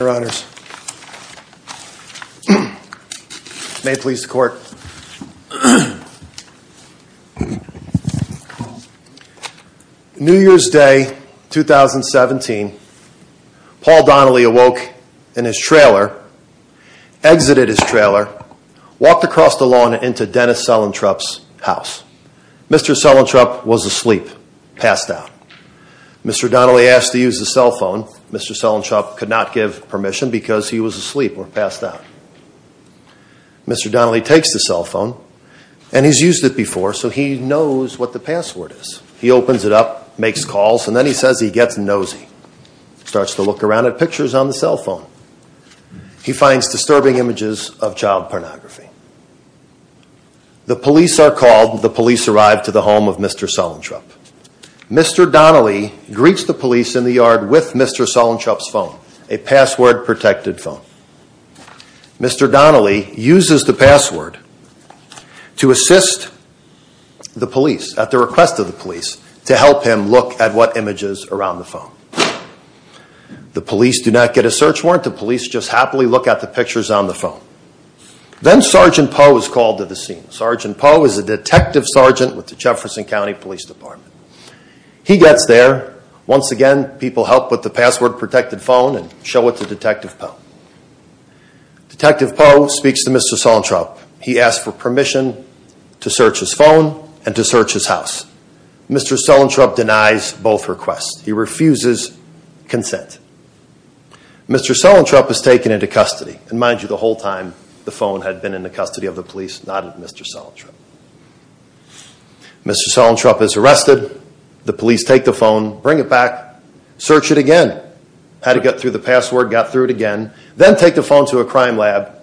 New Year's Day 2017, Paul Donnelly awoke in his trailer, exited his trailer, walked across the lawn into Dennis Suellentrop's house. Mr. Suellentrop was asleep, passed out. Mr. Donnelly asked to use the cell phone. Mr. Suellentrop could not give permission because he was asleep or passed out. Mr. Donnelly takes the cell phone and he's used it before so he knows what the password is. He opens it up, makes calls, and then he says he gets nosy. Starts to look around at pictures on the cell phone. He finds disturbing images of child pornography. The police are called. The police arrive to the home of Mr. Suellentrop. Mr. Donnelly greets the police in the yard with Mr. Suellentrop's phone, a password-protected phone. Mr. Donnelly uses the password to assist the police at the request of the police to help him look at what images are on the phone. The police do not get a search warrant. The police just happily look at the pictures on the phone. Then Sergeant Poe is called to the scene. Sergeant Poe is a detective sergeant with the Jefferson County Police Department. He gets there. Once again, people help with the password-protected phone and show it to Detective Poe. Detective Poe speaks to Mr. Suellentrop. He asks for permission to search his phone and to search his house. Mr. Suellentrop denies both requests. He refuses consent. Mr. Suellentrop is taken into custody. Mind you, the whole time the phone had been in the custody of the police, not Mr. Suellentrop. Mr. Suellentrop is arrested. The police take the phone, bring it back, search it again. Had to get through the password, got through it again, then take the phone to a crime lab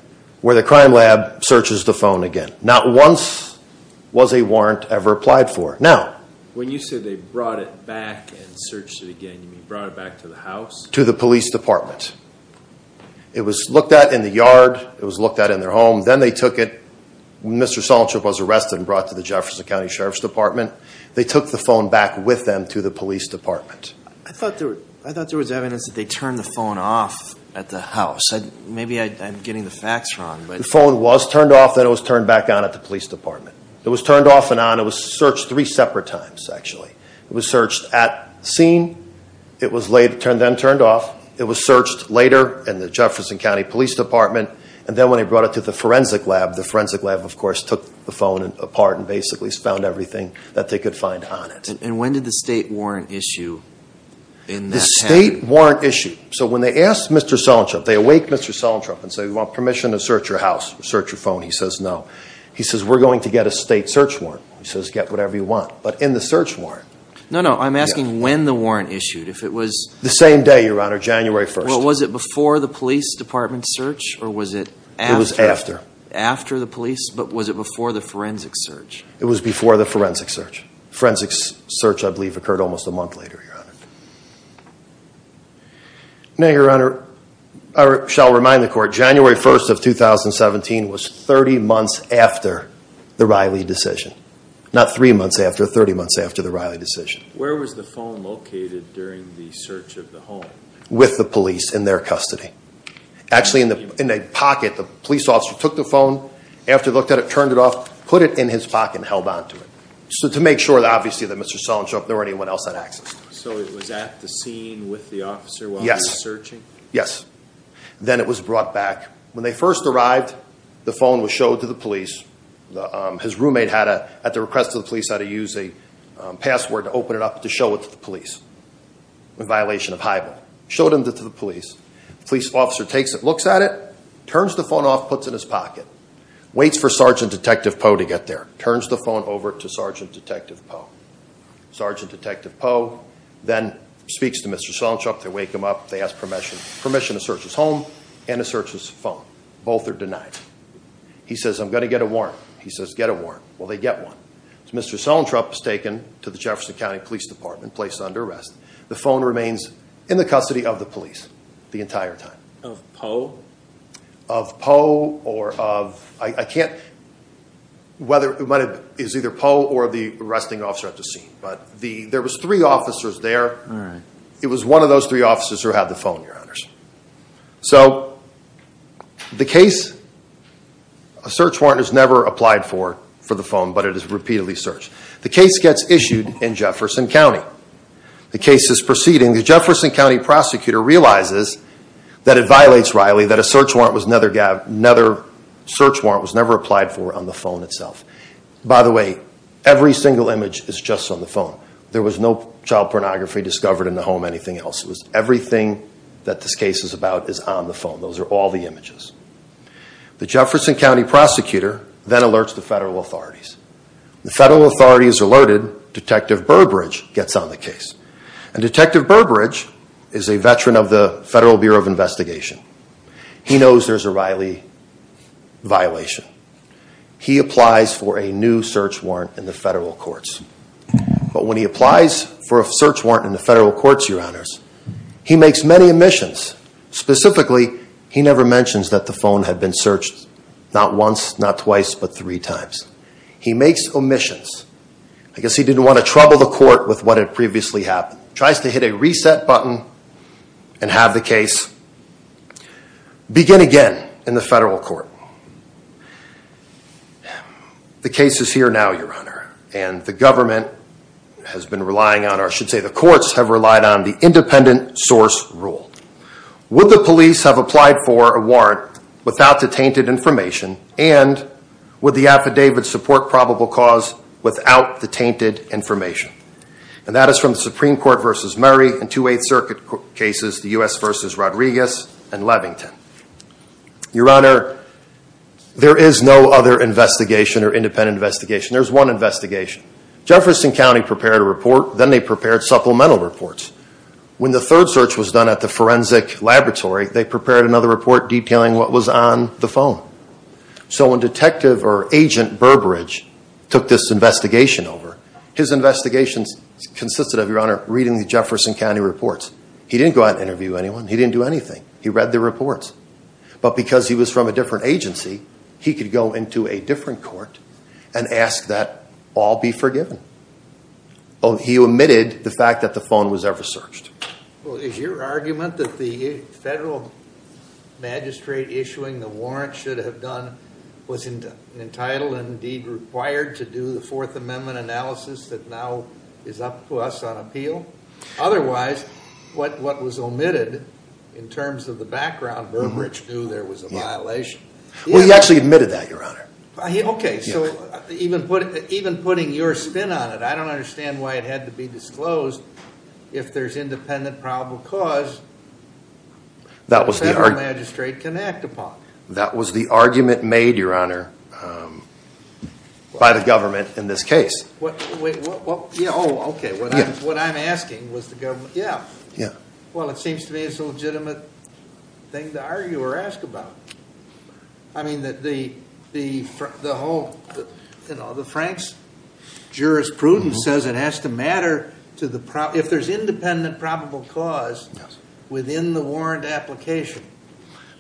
where the crime lab searches the phone again. Not once was a warrant ever applied for. Now, when you say they brought it back and searched it again, you mean brought it back to the house? To the police department. It was looked at in the yard, it was looked at in their home, then they took it, Mr. Suellentrop was arrested and brought to the Jefferson County Sheriff's Department. They took the phone back with them to the police department. I thought there was evidence that they turned the phone off at the house. Maybe I'm getting the facts wrong. The phone was turned off, then it was turned back on at the police department. It was turned off and on. It was searched three separate times, actually. It was searched at scene, it was then turned off, it was searched later in the Jefferson County Police Department, and then when they brought it to the forensic lab, the forensic lab, of course, took the phone apart and basically found everything that they could find on it. And when did the state warrant issue in that county? The state warrant issue. So when they asked Mr. Suellentrop, they awake Mr. Suellentrop and say, we want permission to search your house, search your phone. He says, no. He says, we're going to get a state search warrant. He says, get whatever you want. But in the search warrant. No, no. I'm asking when the warrant issued. If it was... The same day, Your Honor, January 1st. Was it before the police department search or was it after? It was after. After the police? But was it before the forensic search? It was before the forensic search. Forensic search, I believe, occurred almost a month later, Your Honor. Now, Your Honor, I shall remind the Court, January 1st of 2017 was 30 months after the Riley decision. Where was the phone located during the search of the home? With the police in their custody. Actually, in a pocket. The police officer took the phone. After he looked at it, turned it off, put it in his pocket and held on to it. So to make sure, obviously, that Mr. Suellentrop or anyone else had access to it. So it was at the scene with the officer while he was searching? Yes. Then it was brought back. When they first arrived, the phone was showed to the police. His roommate, at the request of the police, had to use a password to open it up to show it to the police. In violation of high ball. Showed it to the police. Police officer takes it, looks at it, turns the phone off, puts it in his pocket. Waits for Sergeant Detective Poe to get there. Turns the phone over to Sergeant Detective Poe. Sergeant Detective Poe then speaks to Mr. Suellentrop. They wake him up. They ask permission. Permission to search his home and to search his phone. Both are denied. He says, I'm going to get a warrant. He says, get a warrant. Well, they get one. Mr. Suellentrop is taken to the Jefferson County Police Department, placed under arrest. The phone remains in the custody of the police the entire time. Of Poe? Of Poe or of, I can't, whether, it might have, it's either Poe or the arresting officer at the scene. But the, there was three officers there. It was one of those three officers who had the phone, Your Honors. So, the case, a search warrant is never applied for, for the phone, but it is repeatedly searched. The case gets issued in Jefferson County. The case is proceeding. The Jefferson County prosecutor realizes that it violates Riley, that a search warrant was never, another search warrant was never applied for on the phone itself. By the way, every single image is just on the phone. There was no child pornography discovered in the home or anything else. It was everything that this case is about is on the phone. Those are all the images. The Jefferson County prosecutor then alerts the federal authorities. The federal authorities are alerted. Detective Burbridge gets on the case. And Detective Burbridge is a veteran of the Federal Bureau of Investigation. He knows there's a Riley violation. He applies for a new search warrant in the federal courts. But when he applies for a search warrant in the federal courts, Your Honors, he makes many omissions. Specifically, he never mentions that the phone had been searched not once, not twice, but three times. He makes omissions. I guess he didn't want to trouble the court with what had previously happened. He tries to hit a reset button and have the case begin again in the federal court. The case is here now, Your Honor. And the government has been relying on, or I should say the courts have relied on, the independent source rule. Would the police have applied for a warrant without the tainted information? And would the affidavit support probable cause without the tainted information? And that is from the Supreme Court v. Murray and two Eighth Circuit cases, the U.S. v. Rodriguez and Levington. Your Honor, there is no other investigation or independent investigation. There's one investigation. Jefferson County prepared a report. Then they prepared supplemental reports. When the third search was done at the forensic laboratory, they prepared another report detailing what was on the phone. So when Detective or Agent Burbridge took this investigation over, his investigations consisted of, Your Honor, reading the Jefferson County reports. He didn't go out and interview anyone. He didn't do anything. He read the reports. But because he was from a different agency, he could go into a different court and ask that all be forgiven. He omitted the fact that the phone was ever searched. Well, is your argument that the federal magistrate issuing the warrant should have done was entitled and indeed required to do the Fourth Amendment analysis that now is up to us on appeal? Otherwise, what was omitted in terms of the background, Burbridge knew there was a violation. Well, he actually admitted that, Your Honor. Okay. So even putting your spin on it, I don't understand why it had to be disclosed. If there's independent probable cause, the federal magistrate can act upon it. That was the argument made, Your Honor, by the government in this case. Oh, okay. What I'm asking was the government. Yeah. Yeah. Well, it seems to me it's a legitimate thing to argue or ask about. I mean, the whole, you know, the Frank's jurisprudence says it has to matter if there's independent probable cause within the warrant application.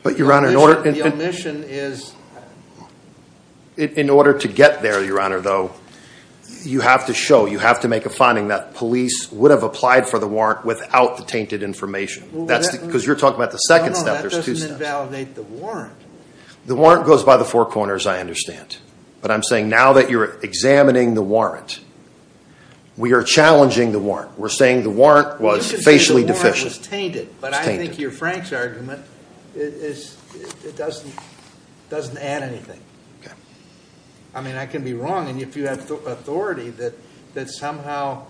But, Your Honor, in order to get there, Your Honor, though, you have to show, you have to make a finding that police would have applied for the warrant without the tainted information. Because you're talking about the second step. No, no, that doesn't invalidate the warrant. The warrant goes by the four corners, I understand. But I'm saying now that you're examining the warrant, we are challenging the warrant. We're saying the warrant was facially deficient. You should say the warrant was tainted. It's tainted. But I think your Frank's argument doesn't add anything. Okay. I mean, I can be wrong. And if you have authority that somehow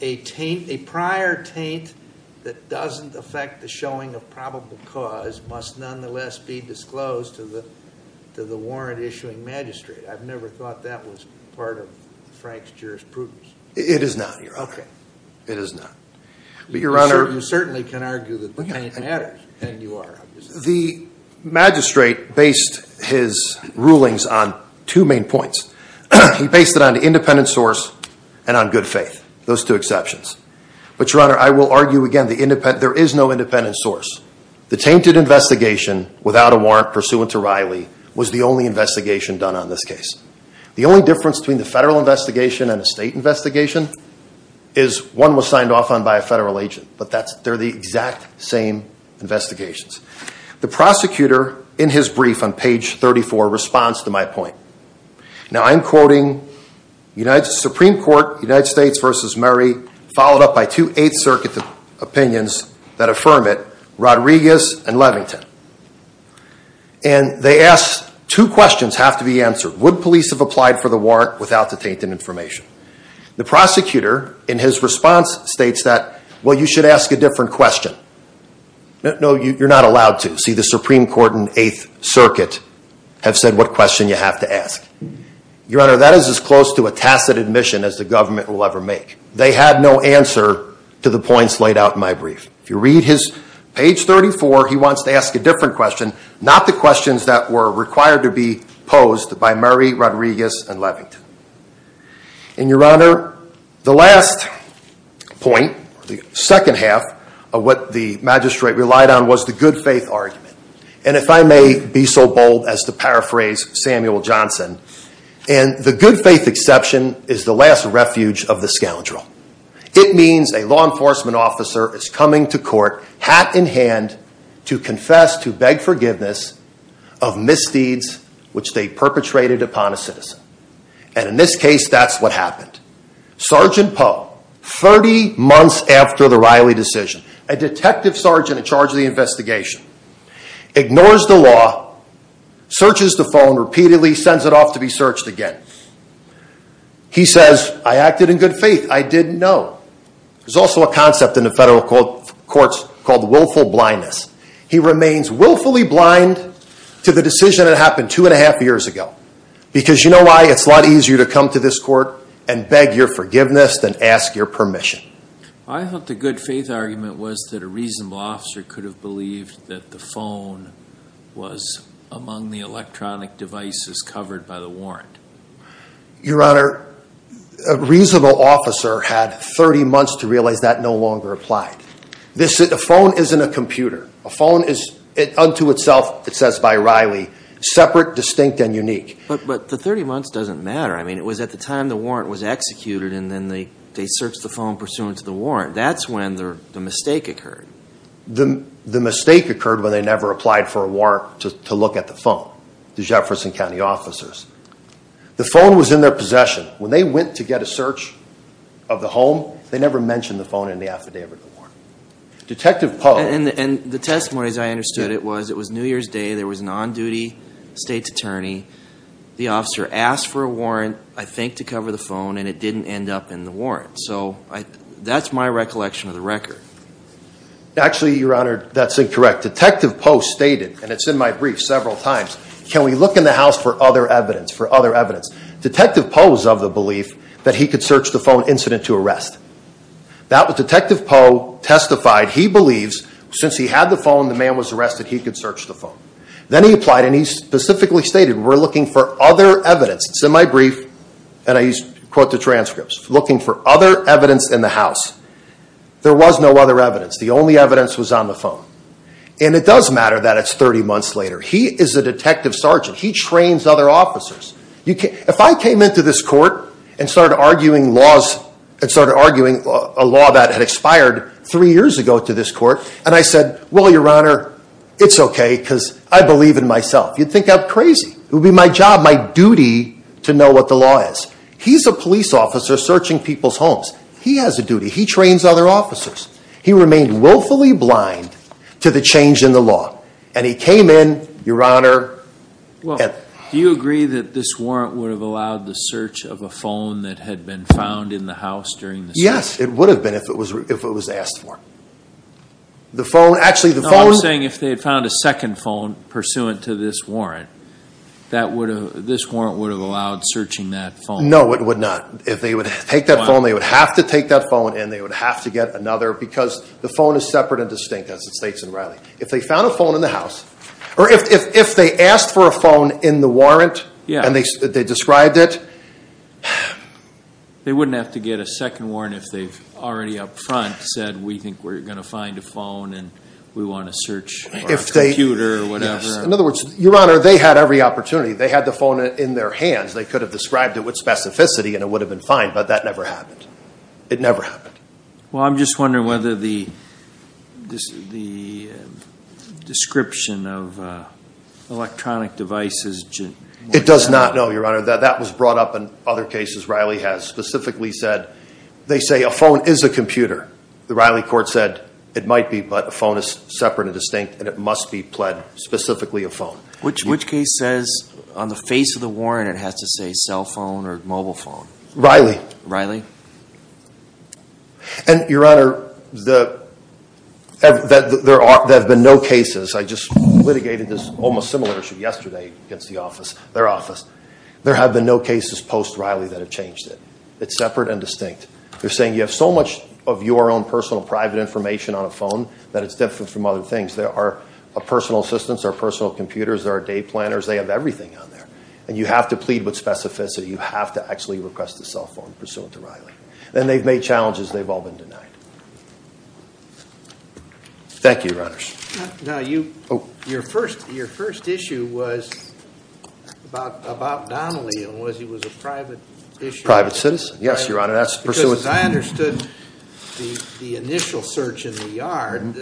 a prior taint that doesn't affect the showing of probable cause must nonetheless be disclosed to the warrant issuing magistrate. I've never thought that was part of Frank's jurisprudence. It is not, Your Honor. Okay. It is not. But, Your Honor. You certainly can argue that the taint matters. And you are, obviously. The magistrate based his rulings on two main points. He based it on the independent source and on good faith. Those two exceptions. But, Your Honor, I will argue again there is no independent source. The tainted investigation without a warrant pursuant to Riley was the only investigation done on this case. The only difference between the federal investigation and a state investigation is one was signed off on by a federal agent. But they're the exact same investigations. The prosecutor in his brief on page 34 responds to my point. Now, I'm quoting Supreme Court United States versus Murray followed up by two Eighth Circuit opinions that affirm it. Rodriguez and Levington. And they ask two questions have to be answered. Would police have applied for the warrant without the tainted information? The prosecutor in his response states that, well, you should ask a different question. No, you're not allowed to. See, the Supreme Court and Eighth Circuit have said what question you have to ask. Your Honor, that is as close to a tacit admission as the government will ever make. They had no answer to the points laid out in my brief. If you read his page 34, he wants to ask a different question. Not the questions that were required to be posed by Murray, Rodriguez, and Levington. And, Your Honor, the last point, the second half of what the magistrate relied on was the good faith argument. And if I may be so bold as to paraphrase Samuel Johnson, and the good faith exception is the last refuge of the scoundrel. It means a law enforcement officer is coming to court, hat in hand, to confess, to beg forgiveness of misdeeds which they perpetrated upon a citizen. And in this case, that's what happened. Sergeant Poe, 30 months after the Riley decision, a detective sergeant in charge of the investigation, ignores the law, searches the phone repeatedly, sends it off to be searched again. He says, I acted in good faith. I didn't know. There's also a concept in the federal courts called willful blindness. He remains willfully blind to the decision that happened two and a half years ago. Because you know why? It's a lot easier to come to this court and beg your forgiveness than ask your permission. I thought the good faith argument was that a reasonable officer could have believed that the phone was among the electronic devices covered by the warrant. Your Honor, a reasonable officer had 30 months to realize that no longer applied. A phone isn't a computer. A phone is unto itself, it says by Riley, separate, distinct, and unique. But the 30 months doesn't matter. I mean, it was at the time the warrant was executed and then they searched the phone pursuant to the warrant. That's when the mistake occurred. The mistake occurred when they never applied for a warrant to look at the phone, the Jefferson County officers. The phone was in their possession. When they went to get a search of the home, they never mentioned the phone in the affidavit of the warrant. Detective Poe. And the testimony, as I understood it, was it was New Year's Day. There was an on-duty state's attorney. The officer asked for a warrant, I think to cover the phone, and it didn't end up in the warrant. So that's my recollection of the record. Actually, Your Honor, that's incorrect. Detective Poe stated, and it's in my brief several times, can we look in the house for other evidence, for other evidence. Detective Poe was of the belief that he could search the phone incident to arrest. Detective Poe testified he believes since he had the phone, the man was arrested, he could search the phone. Then he applied and he specifically stated we're looking for other evidence. It's in my brief, and I quote the transcripts. Looking for other evidence in the house. There was no other evidence. The only evidence was on the phone. And it does matter that it's 30 months later. He is a detective sergeant. He trains other officers. If I came into this court and started arguing laws, and started arguing a law that had expired three years ago to this court, and I said, well, Your Honor, it's okay because I believe in myself. You'd think I'm crazy. It would be my job, my duty to know what the law is. He's a police officer searching people's homes. He has a duty. He trains other officers. He remained willfully blind to the change in the law. And he came in, Your Honor. Well, do you agree that this warrant would have allowed the search of a phone that had been found in the house during the search? Yes, it would have been if it was asked for. The phone, actually the phone. No, I'm saying if they had found a second phone pursuant to this warrant, this warrant would have allowed searching that phone. No, it would not. If they would take that phone, they would have to take that phone, and they would have to get another, because the phone is separate and distinct, as it states in Riley. If they found a phone in the house, or if they asked for a phone in the warrant, and they described it. They wouldn't have to get a second warrant if they've already up front said, we think we're going to find a phone, and we want to search our computer or whatever. In other words, Your Honor, they had every opportunity. They had the phone in their hands. They could have described it with specificity, and it would have been fine, but that never happened. It never happened. Well, I'm just wondering whether the description of electronic devices. It does not know, Your Honor. That was brought up in other cases Riley has specifically said. They say a phone is a computer. The Riley court said it might be, but a phone is separate and distinct, and it must be pled specifically a phone. Which case says on the face of the warrant it has to say cell phone or mobile phone? Riley. Riley? And, Your Honor, there have been no cases. I just litigated this almost similar issue yesterday against the office, their office. There have been no cases post-Riley that have changed it. It's separate and distinct. They're saying you have so much of your own personal private information on a phone that it's different from other things. There are personal assistants. There are personal computers. There are day planners. They have everything on there, and you have to plead with specificity. You have to actually request a cell phone pursuant to Riley, and they've made challenges. They've all been denied. Thank you, Your Honors. Now, your first issue was about Donnelly, and it was a private issue. Private citizen. Yes, Your Honor, that's pursuant. Because I understood the initial search in the yard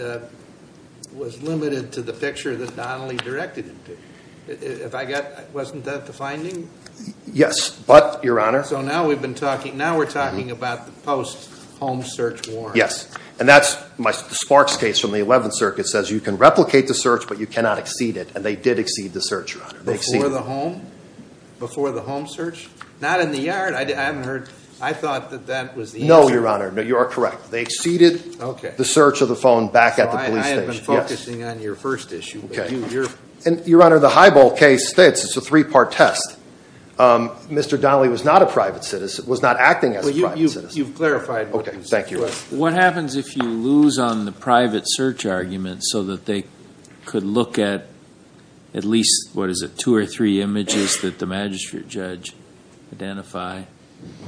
was limited to the picture that Donnelly directed it to. Wasn't that the finding? Yes, but, Your Honor. So now we're talking about the post-home search warrant. Yes, and that's the Sparks case from the 11th Circuit says you can replicate the search, but you cannot exceed it, and they did exceed the search, Your Honor. Before the home? Before the home search? Not in the yard. I haven't heard. I thought that that was the answer. No, Your Honor. No, you are correct. They exceeded the search of the phone back at the police station. I have been focusing on your first issue. Okay. And, Your Honor, the Highbolt case, it's a three-part test. Mr. Donnelly was not a private citizen, was not acting as a private citizen. Well, you've clarified. Okay, thank you. What happens if you lose on the private search argument so that they could look at at least, what is it, two or three images that the magistrate judge identified,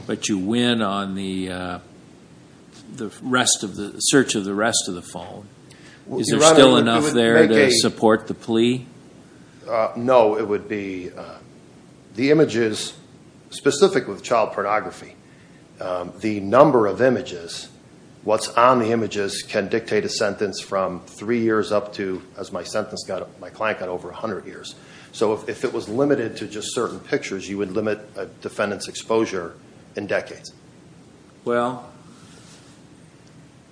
but you win on the search of the rest of the phone? Is there still enough there to support the plea? No, it would be, the images, specific with child pornography, the number of images, what's on the images can dictate a sentence from three years up to, as my sentence got, my client got over 100 years. So, if it was limited to just certain pictures, you would limit a defendant's exposure in decades. Well,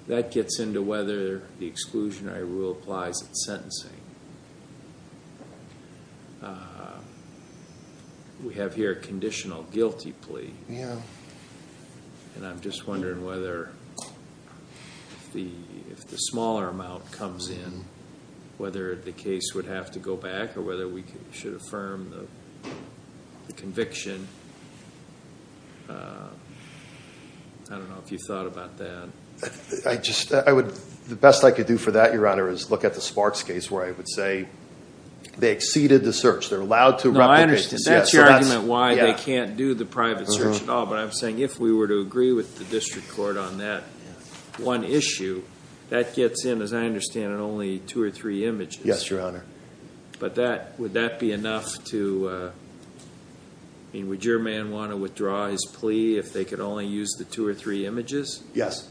that gets into whether the exclusionary rule applies at sentencing. We have here a conditional guilty plea. Yeah. And I'm just wondering whether, if the smaller amount comes in, whether the case would have to go back or whether we should affirm the conviction. I don't know if you thought about that. I just, I would, the best I could do for that, Your Honor, is look at the Sparks case where I would say they exceeded the search. They're allowed to replicate. That's your argument why they can't do the private search at all, but I'm saying if we were to agree with the district court on that one issue, that gets in, as I understand it, only two or three images. Yes, Your Honor. But that, would that be enough to, I mean, would your man want to withdraw his plea if they could only use the two or three images? Yes.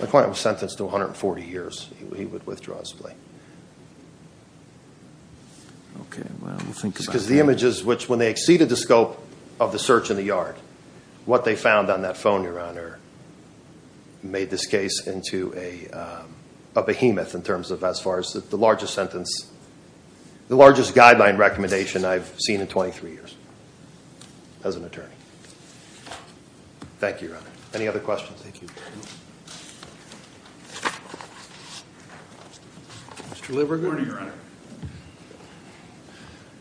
My client was sentenced to 140 years. He would withdraw his plea. Okay, well, we'll think about that. Because the images which, when they exceeded the scope of the search in the yard, what they found on that phone, Your Honor, made this case into a behemoth in terms of as far as the largest sentence, the largest guideline recommendation I've seen in 23 years as an attorney. Thank you, Your Honor. Any other questions? Thank you. Good morning, Your Honor.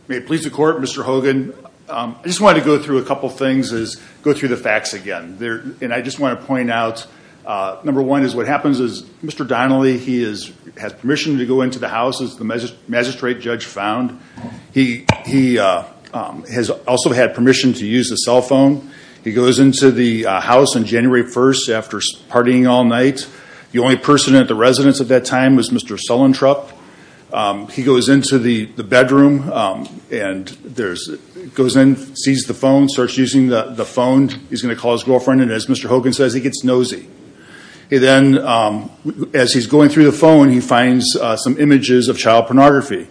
May it please the court, Mr. Hogan. I just wanted to go through a couple things, is go through the facts again. And I just want to point out, number one is what happens is Mr. Donnelly, he has permission to go into the house, as the magistrate judge found. He has also had permission to use the cell phone. He goes into the house on January 1st after partying all night. The only person at the residence at that time was Mr. Sullentrop. He goes into the bedroom and goes in, sees the phone, starts using the phone. He's going to call his girlfriend. And as Mr. Hogan says, he gets nosy. And then as he's going through the phone, he finds some images of child pornography.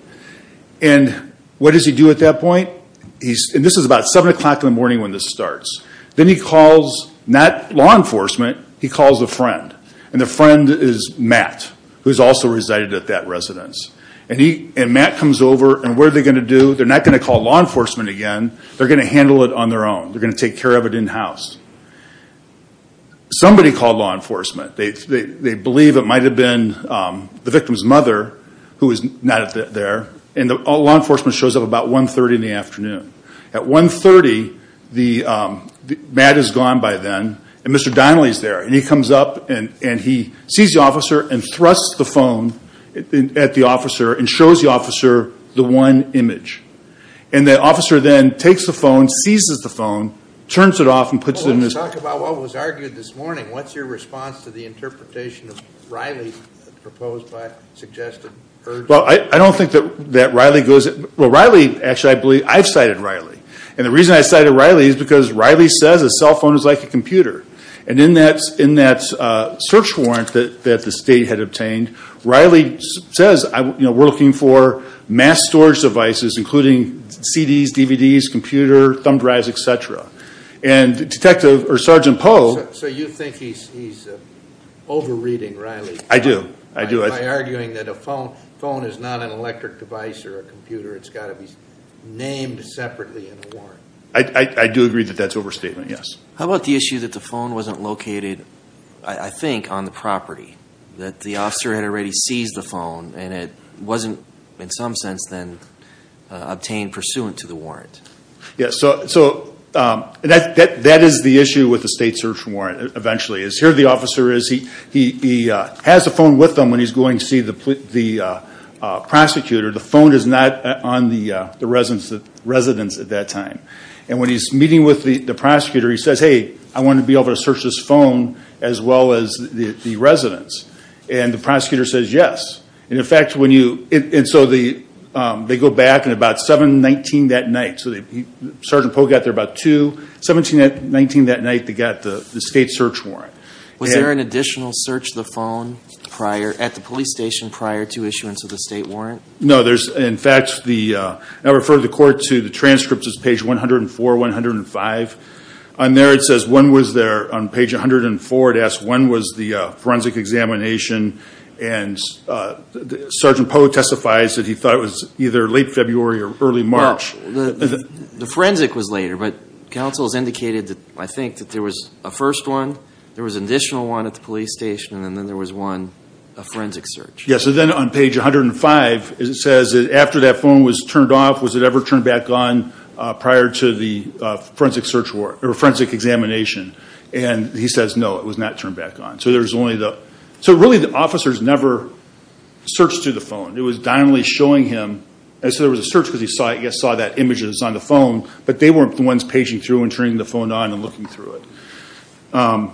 And what does he do at that point? And this is about 7 o'clock in the morning when this starts. Then he calls, not law enforcement, he calls a friend. And the friend is Matt, who has also resided at that residence. And Matt comes over, and what are they going to do? They're not going to call law enforcement again. They're going to handle it on their own. They're going to take care of it in-house. Somebody called law enforcement. They believe it might have been the victim's mother, who is not there. And law enforcement shows up about 1.30 in the afternoon. At 1.30, Matt is gone by then. And Mr. Donnelly is there. And he comes up and he sees the officer and thrusts the phone at the officer and shows the officer the one image. And the officer then takes the phone, seizes the phone, turns it off and puts it in his pocket. Well, let's talk about what was argued this morning. What's your response to the interpretation of Riley proposed by suggested urgency? Well, I don't think that Riley goes at – well, Riley, actually, I've cited Riley. And the reason I cited Riley is because Riley says a cell phone is like a computer. And in that search warrant that the state had obtained, Riley says, you know, we're looking for mass storage devices, including CDs, DVDs, computer, thumb drives, et cetera. And Detective – or Sergeant Poe – So you think he's over-reading Riley? I do. I do. phone is not an electric device or a computer. It's got to be named separately in the warrant. I do agree that that's overstatement, yes. How about the issue that the phone wasn't located, I think, on the property, that the officer had already seized the phone and it wasn't in some sense then obtained pursuant to the warrant? Yeah, so that is the issue with the state search warrant, eventually, is here the officer is, he has the phone with him when he's going to see the prosecutor. The phone is not on the residence at that time. And when he's meeting with the prosecutor, he says, hey, I want to be able to search this phone as well as the residence. And the prosecutor says yes. And, in fact, when you – and so they go back, and about 7-19 that night, so Sergeant Poe got there about 2-17-19 that night, they got the state search warrant. Was there an additional search of the phone prior, at the police station prior to issuance of the state warrant? No, there's – in fact, the – I referred the court to the transcripts. It's page 104, 105. On there it says when was there, on page 104 it asks when was the forensic examination. And Sergeant Poe testifies that he thought it was either late February or early March. No, the forensic was later. But counsel has indicated, I think, that there was a first one, there was an additional one at the police station, and then there was one, a forensic search. Yes, and then on page 105 it says that after that phone was turned off, was it ever turned back on prior to the forensic examination. And he says no, it was not turned back on. So there's only the – so really the officer's never searched through the phone. It was dynamically showing him. And so there was a search because he saw that image that was on the phone, but they weren't the ones paging through and turning the phone on and looking through it.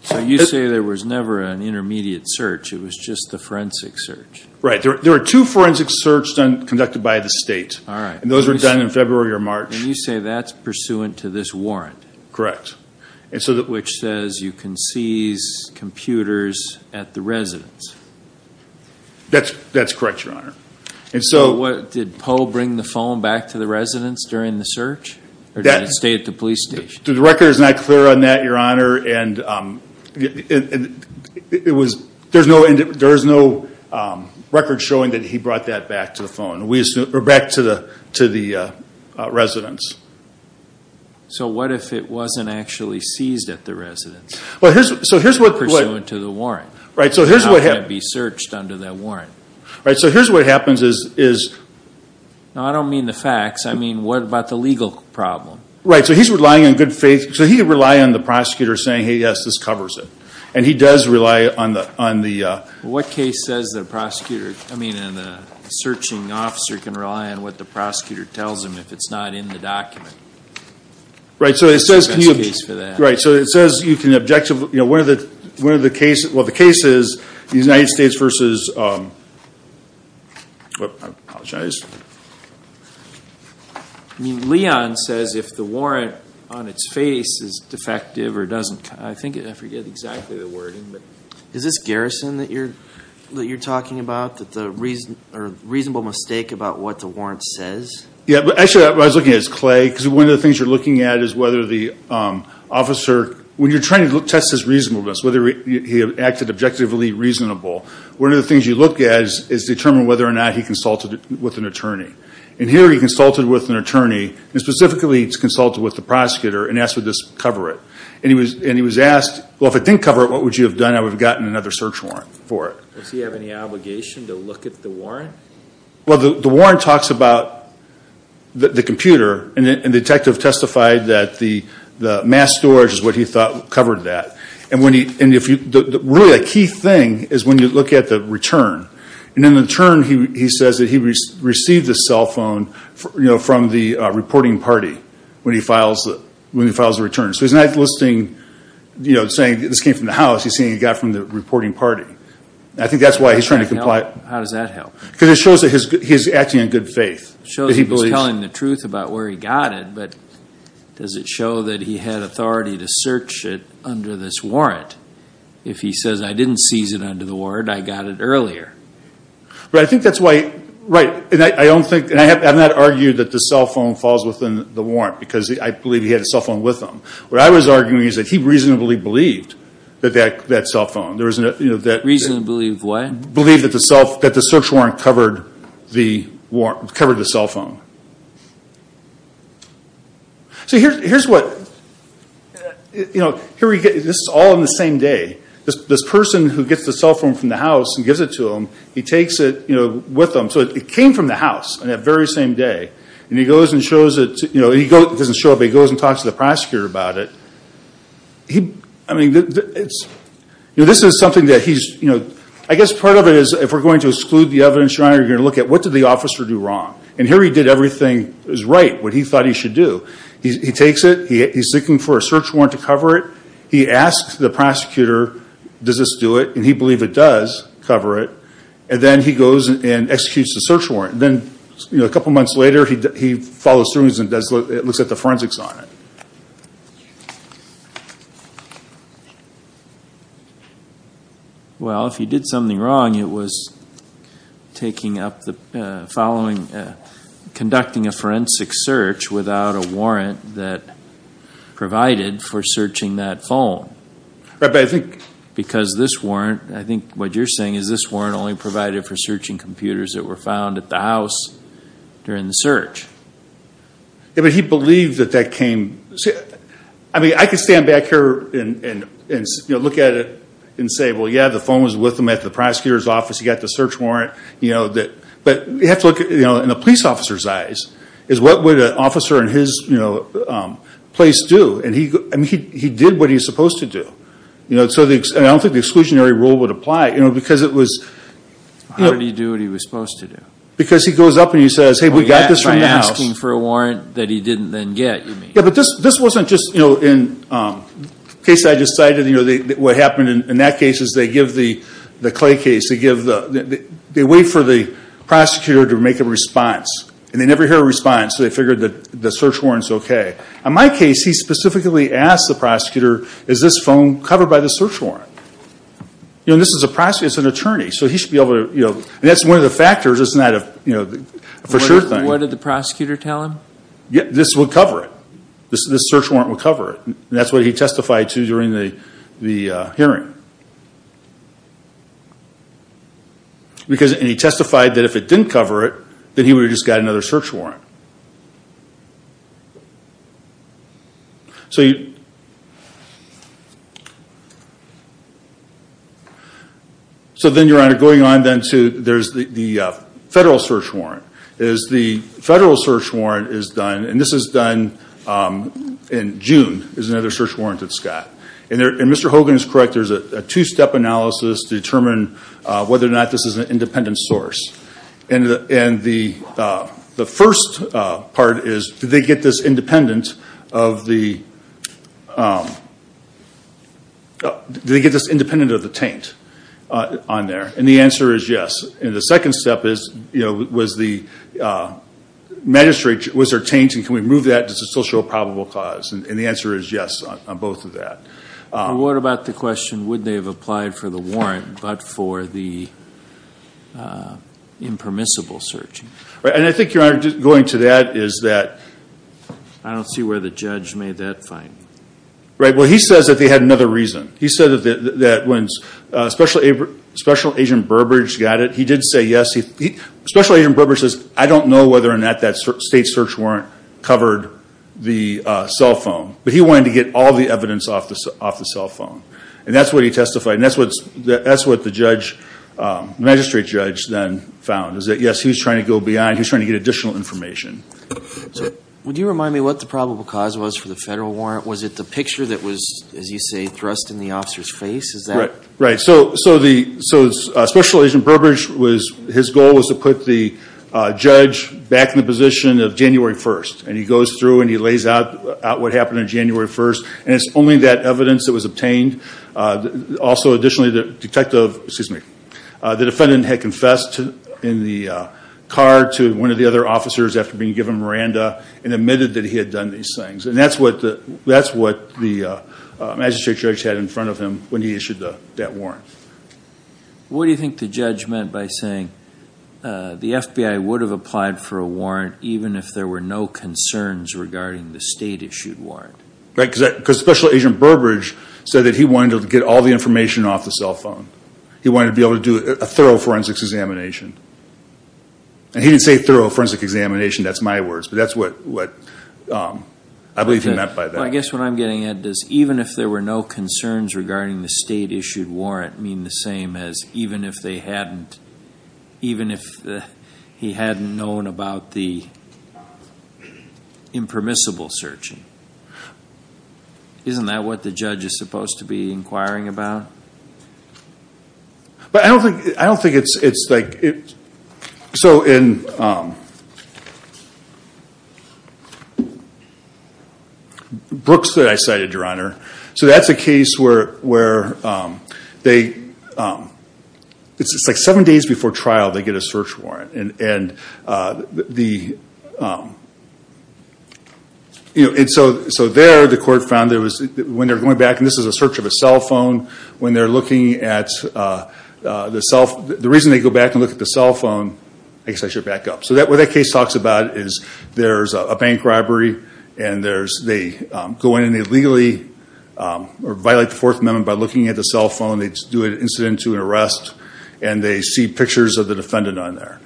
So you say there was never an intermediate search. It was just the forensic search. Right. There were two forensic searches conducted by the state. All right. And those were done in February or March. And you say that's pursuant to this warrant. Correct. Which says you can seize computers at the residence. That's correct, Your Honor. So did Poe bring the phone back to the residence during the search? Or did it stay at the police station? The record is not clear on that, Your Honor. And it was – there's no record showing that he brought that back to the phone, or back to the residence. So what if it wasn't actually seized at the residence, pursuant to the warrant? Right. So here's what happens. It's not going to be searched under that warrant. Right. So here's what happens is – No, I don't mean the facts. I mean what about the legal problem? Right. So he's relying on good faith. So he could rely on the prosecutor saying, hey, yes, this covers it. And he does rely on the – What case says the prosecutor – I mean the searching officer can rely on what the prosecutor tells him if it's not in the document? Right. So it says – That's the case for that. Right. So it says you can objectively – one of the cases – well, the case is the United States versus – I apologize. I mean Leon says if the warrant on its face is defective or doesn't – I forget exactly the wording. Is this garrison that you're talking about, that the reason – or reasonable mistake about what the warrant says? Yeah. Actually, what I was looking at is Clay, because one of the things you're looking at is whether the officer – when you're trying to test his reasonableness, whether he acted objectively reasonable, one of the things you look at is determine whether or not he consulted with an attorney. And here he consulted with an attorney, and specifically he consulted with the prosecutor and asked, would this cover it? And he was asked, well, if it didn't cover it, what would you have done? I would have gotten another search warrant for it. Does he have any obligation to look at the warrant? Well, the warrant talks about the computer, and the detective testified that the mass storage is what he thought covered that. And really a key thing is when you look at the return. And in the return, he says that he received the cell phone from the reporting party when he files the return. So he's not listing – saying this came from the house. He's saying it got from the reporting party. I think that's why he's trying to comply. How does that help? Because it shows that he's acting in good faith. It shows he's telling the truth about where he got it, but does it show that he had authority to search it under this warrant? If he says, I didn't seize it under the warrant, I got it earlier. Right. I think that's why – right. And I don't think – and I have not argued that the cell phone falls within the warrant, because I believe he had a cell phone with him. What I was arguing is that he reasonably believed that that cell phone. Reasonably believed what? Believed that the search warrant covered the cell phone. So here's what – this is all on the same day. This person who gets the cell phone from the house and gives it to him, he takes it with him. So it came from the house on that very same day. And he goes and shows it – he doesn't show it, but he goes and talks to the prosecutor about it. I mean, this is something that he's – I guess part of it is if we're going to exclude the evidence, you're going to look at what did the officer do wrong. And here he did everything right, what he thought he should do. He takes it. He's looking for a search warrant to cover it. He asks the prosecutor, does this do it? And he believes it does cover it. And then he goes and executes the search warrant. Then a couple months later, he follows through and looks at the forensics on it. Well, if he did something wrong, it was taking up the following – conducting a forensic search without a warrant that provided for searching that phone. Right, but I think – Because this warrant – I think what you're saying is this warrant only provided for searching computers that were found at the house during the search. Yeah, but he believed that that came – I mean, I could stand back here and look at it and say, well, yeah, the phone was with him at the prosecutor's office. He got the search warrant. But you have to look in a police officer's eyes is what would an officer in his place do? I mean, he did what he was supposed to do. And I don't think the exclusionary rule would apply because it was – How did he do what he was supposed to do? Because he goes up and he says, hey, we got this from the house. By asking for a warrant that he didn't then get, you mean. Yeah, but this wasn't just, you know, in the case I just cited, you know, what happened in that case is they give the Clay case, they give the – they wait for the prosecutor to make a response. And they never hear a response, so they figured the search warrant's okay. In my case, he specifically asked the prosecutor, is this phone covered by the search warrant? You know, this is a prosecutor. It's an attorney, so he should be able to, you know, and that's one of the factors. It's not a, you know, for sure thing. What did the prosecutor tell him? This will cover it. This search warrant will cover it. And that's what he testified to during the hearing. And he testified that if it didn't cover it, then he would have just got another search warrant. So you – so then, Your Honor, going on then to – there's the federal search warrant. The federal search warrant is done, and this is done in June, is another search warrant at Scott. And Mr. Hogan is correct. There's a two-step analysis to determine whether or not this is an independent source. And the first part is, do they get this independent of the – do they get this independent of the taint on there? And the answer is yes. And the second step is, you know, was the magistrate – was there taint, and can we remove that? Does it still show a probable cause? And the answer is yes on both of that. What about the question, would they have applied for the warrant but for the impermissible search? And I think, Your Honor, going to that is that – I don't see where the judge made that finding. Right. Well, he says that they had another reason. He said that when Special Agent Burbridge got it, he did say yes. Special Agent Burbridge says, I don't know whether or not that state search warrant covered the cell phone. But he wanted to get all the evidence off the cell phone. And that's what he testified. And that's what the judge – the magistrate judge then found, is that, yes, he was trying to go beyond. He was trying to get additional information. Would you remind me what the probable cause was for the federal warrant? Was it the picture that was, as you say, thrust in the officer's face? Is that – Right. So Special Agent Burbridge was – his goal was to put the judge back in the position of January 1st. And he goes through and he lays out what happened on January 1st. And it's only that evidence that was obtained. Also, additionally, the detective – excuse me – the defendant had confessed in the car to one of the other officers after being given Miranda and admitted that he had done these things. And that's what the magistrate judge had in front of him when he issued that warrant. What do you think the judge meant by saying the FBI would have applied for a warrant even if there were no concerns regarding the state-issued warrant? Right, because Special Agent Burbridge said that he wanted to get all the information off the cell phone. He wanted to be able to do a thorough forensics examination. And he didn't say thorough forensic examination. That's my words. But that's what I believe he meant by that. I guess what I'm getting at is even if there were no concerns regarding the state-issued warrant, that doesn't mean the same as even if they hadn't – even if he hadn't known about the impermissible searching. Isn't that what the judge is supposed to be inquiring about? But I don't think it's like – so in Brooks that I cited, Your Honor, so that's a case where they – it's like seven days before trial they get a search warrant. And so there the court found there was – when they're going back, and this is a search of a cell phone, when they're looking at the cell – the reason they go back and look at the cell phone – I guess I should back up. So what that case talks about is there's a bank robbery and they go in and they legally violate the Fourth Amendment by looking at the cell phone. They do an incident to an arrest and they see pictures of the defendant on there.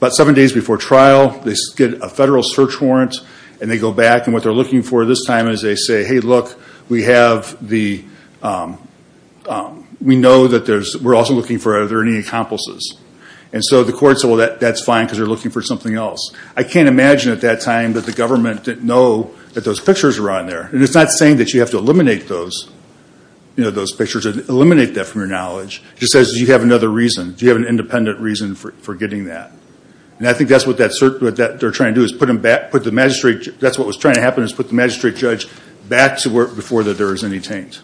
About seven days before trial they get a federal search warrant and they go back. And what they're looking for this time is they say, hey, look, we have the – we know that there's – we're also looking for are there any accomplices. And so the court said, well, that's fine because they're looking for something else. I can't imagine at that time that the government didn't know that those pictures were on there. And it's not saying that you have to eliminate those pictures, eliminate that from your knowledge. It just says, do you have another reason? Do you have an independent reason for getting that? And I think that's what they're trying to do is put the magistrate – that's what was trying to happen is put the magistrate judge back to work before there was any taint.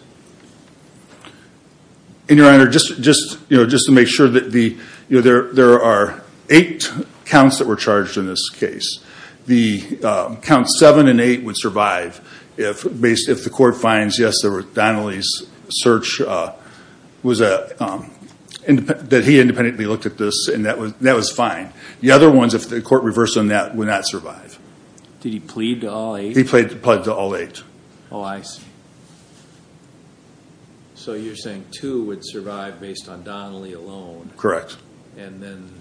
And, Your Honor, just to make sure that the – there are eight counts that were charged in this case. The counts seven and eight would survive if the court finds, yes, that Donnelly's search was a – that he independently looked at this and that was fine. The other ones, if the court reversed on that, would not survive. Did he plead to all eight? He pleaded to all eight. Oh, I see. So you're saying two would survive based on Donnelly alone. Correct. And then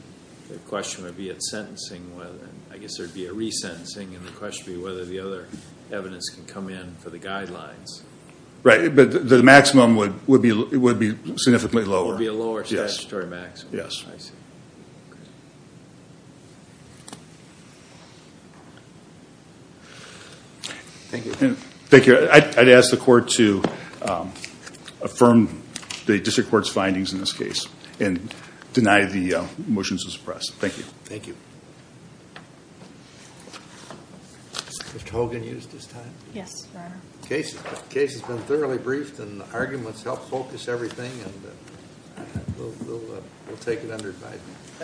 the question would be at sentencing whether – I guess there would be a resentencing and the question would be whether the other evidence can come in for the guidelines. Right. But the maximum would be significantly lower. It would be a lower statutory maximum. Yes. I see. Thank you. Thank you. I'd ask the court to affirm the district court's findings in this case and deny the motion to suppress. Thank you. Thank you. Mr. Hogan used his time. Yes, Your Honor. The case has been thoroughly briefed and the arguments helped focus everything and we'll take it under advice.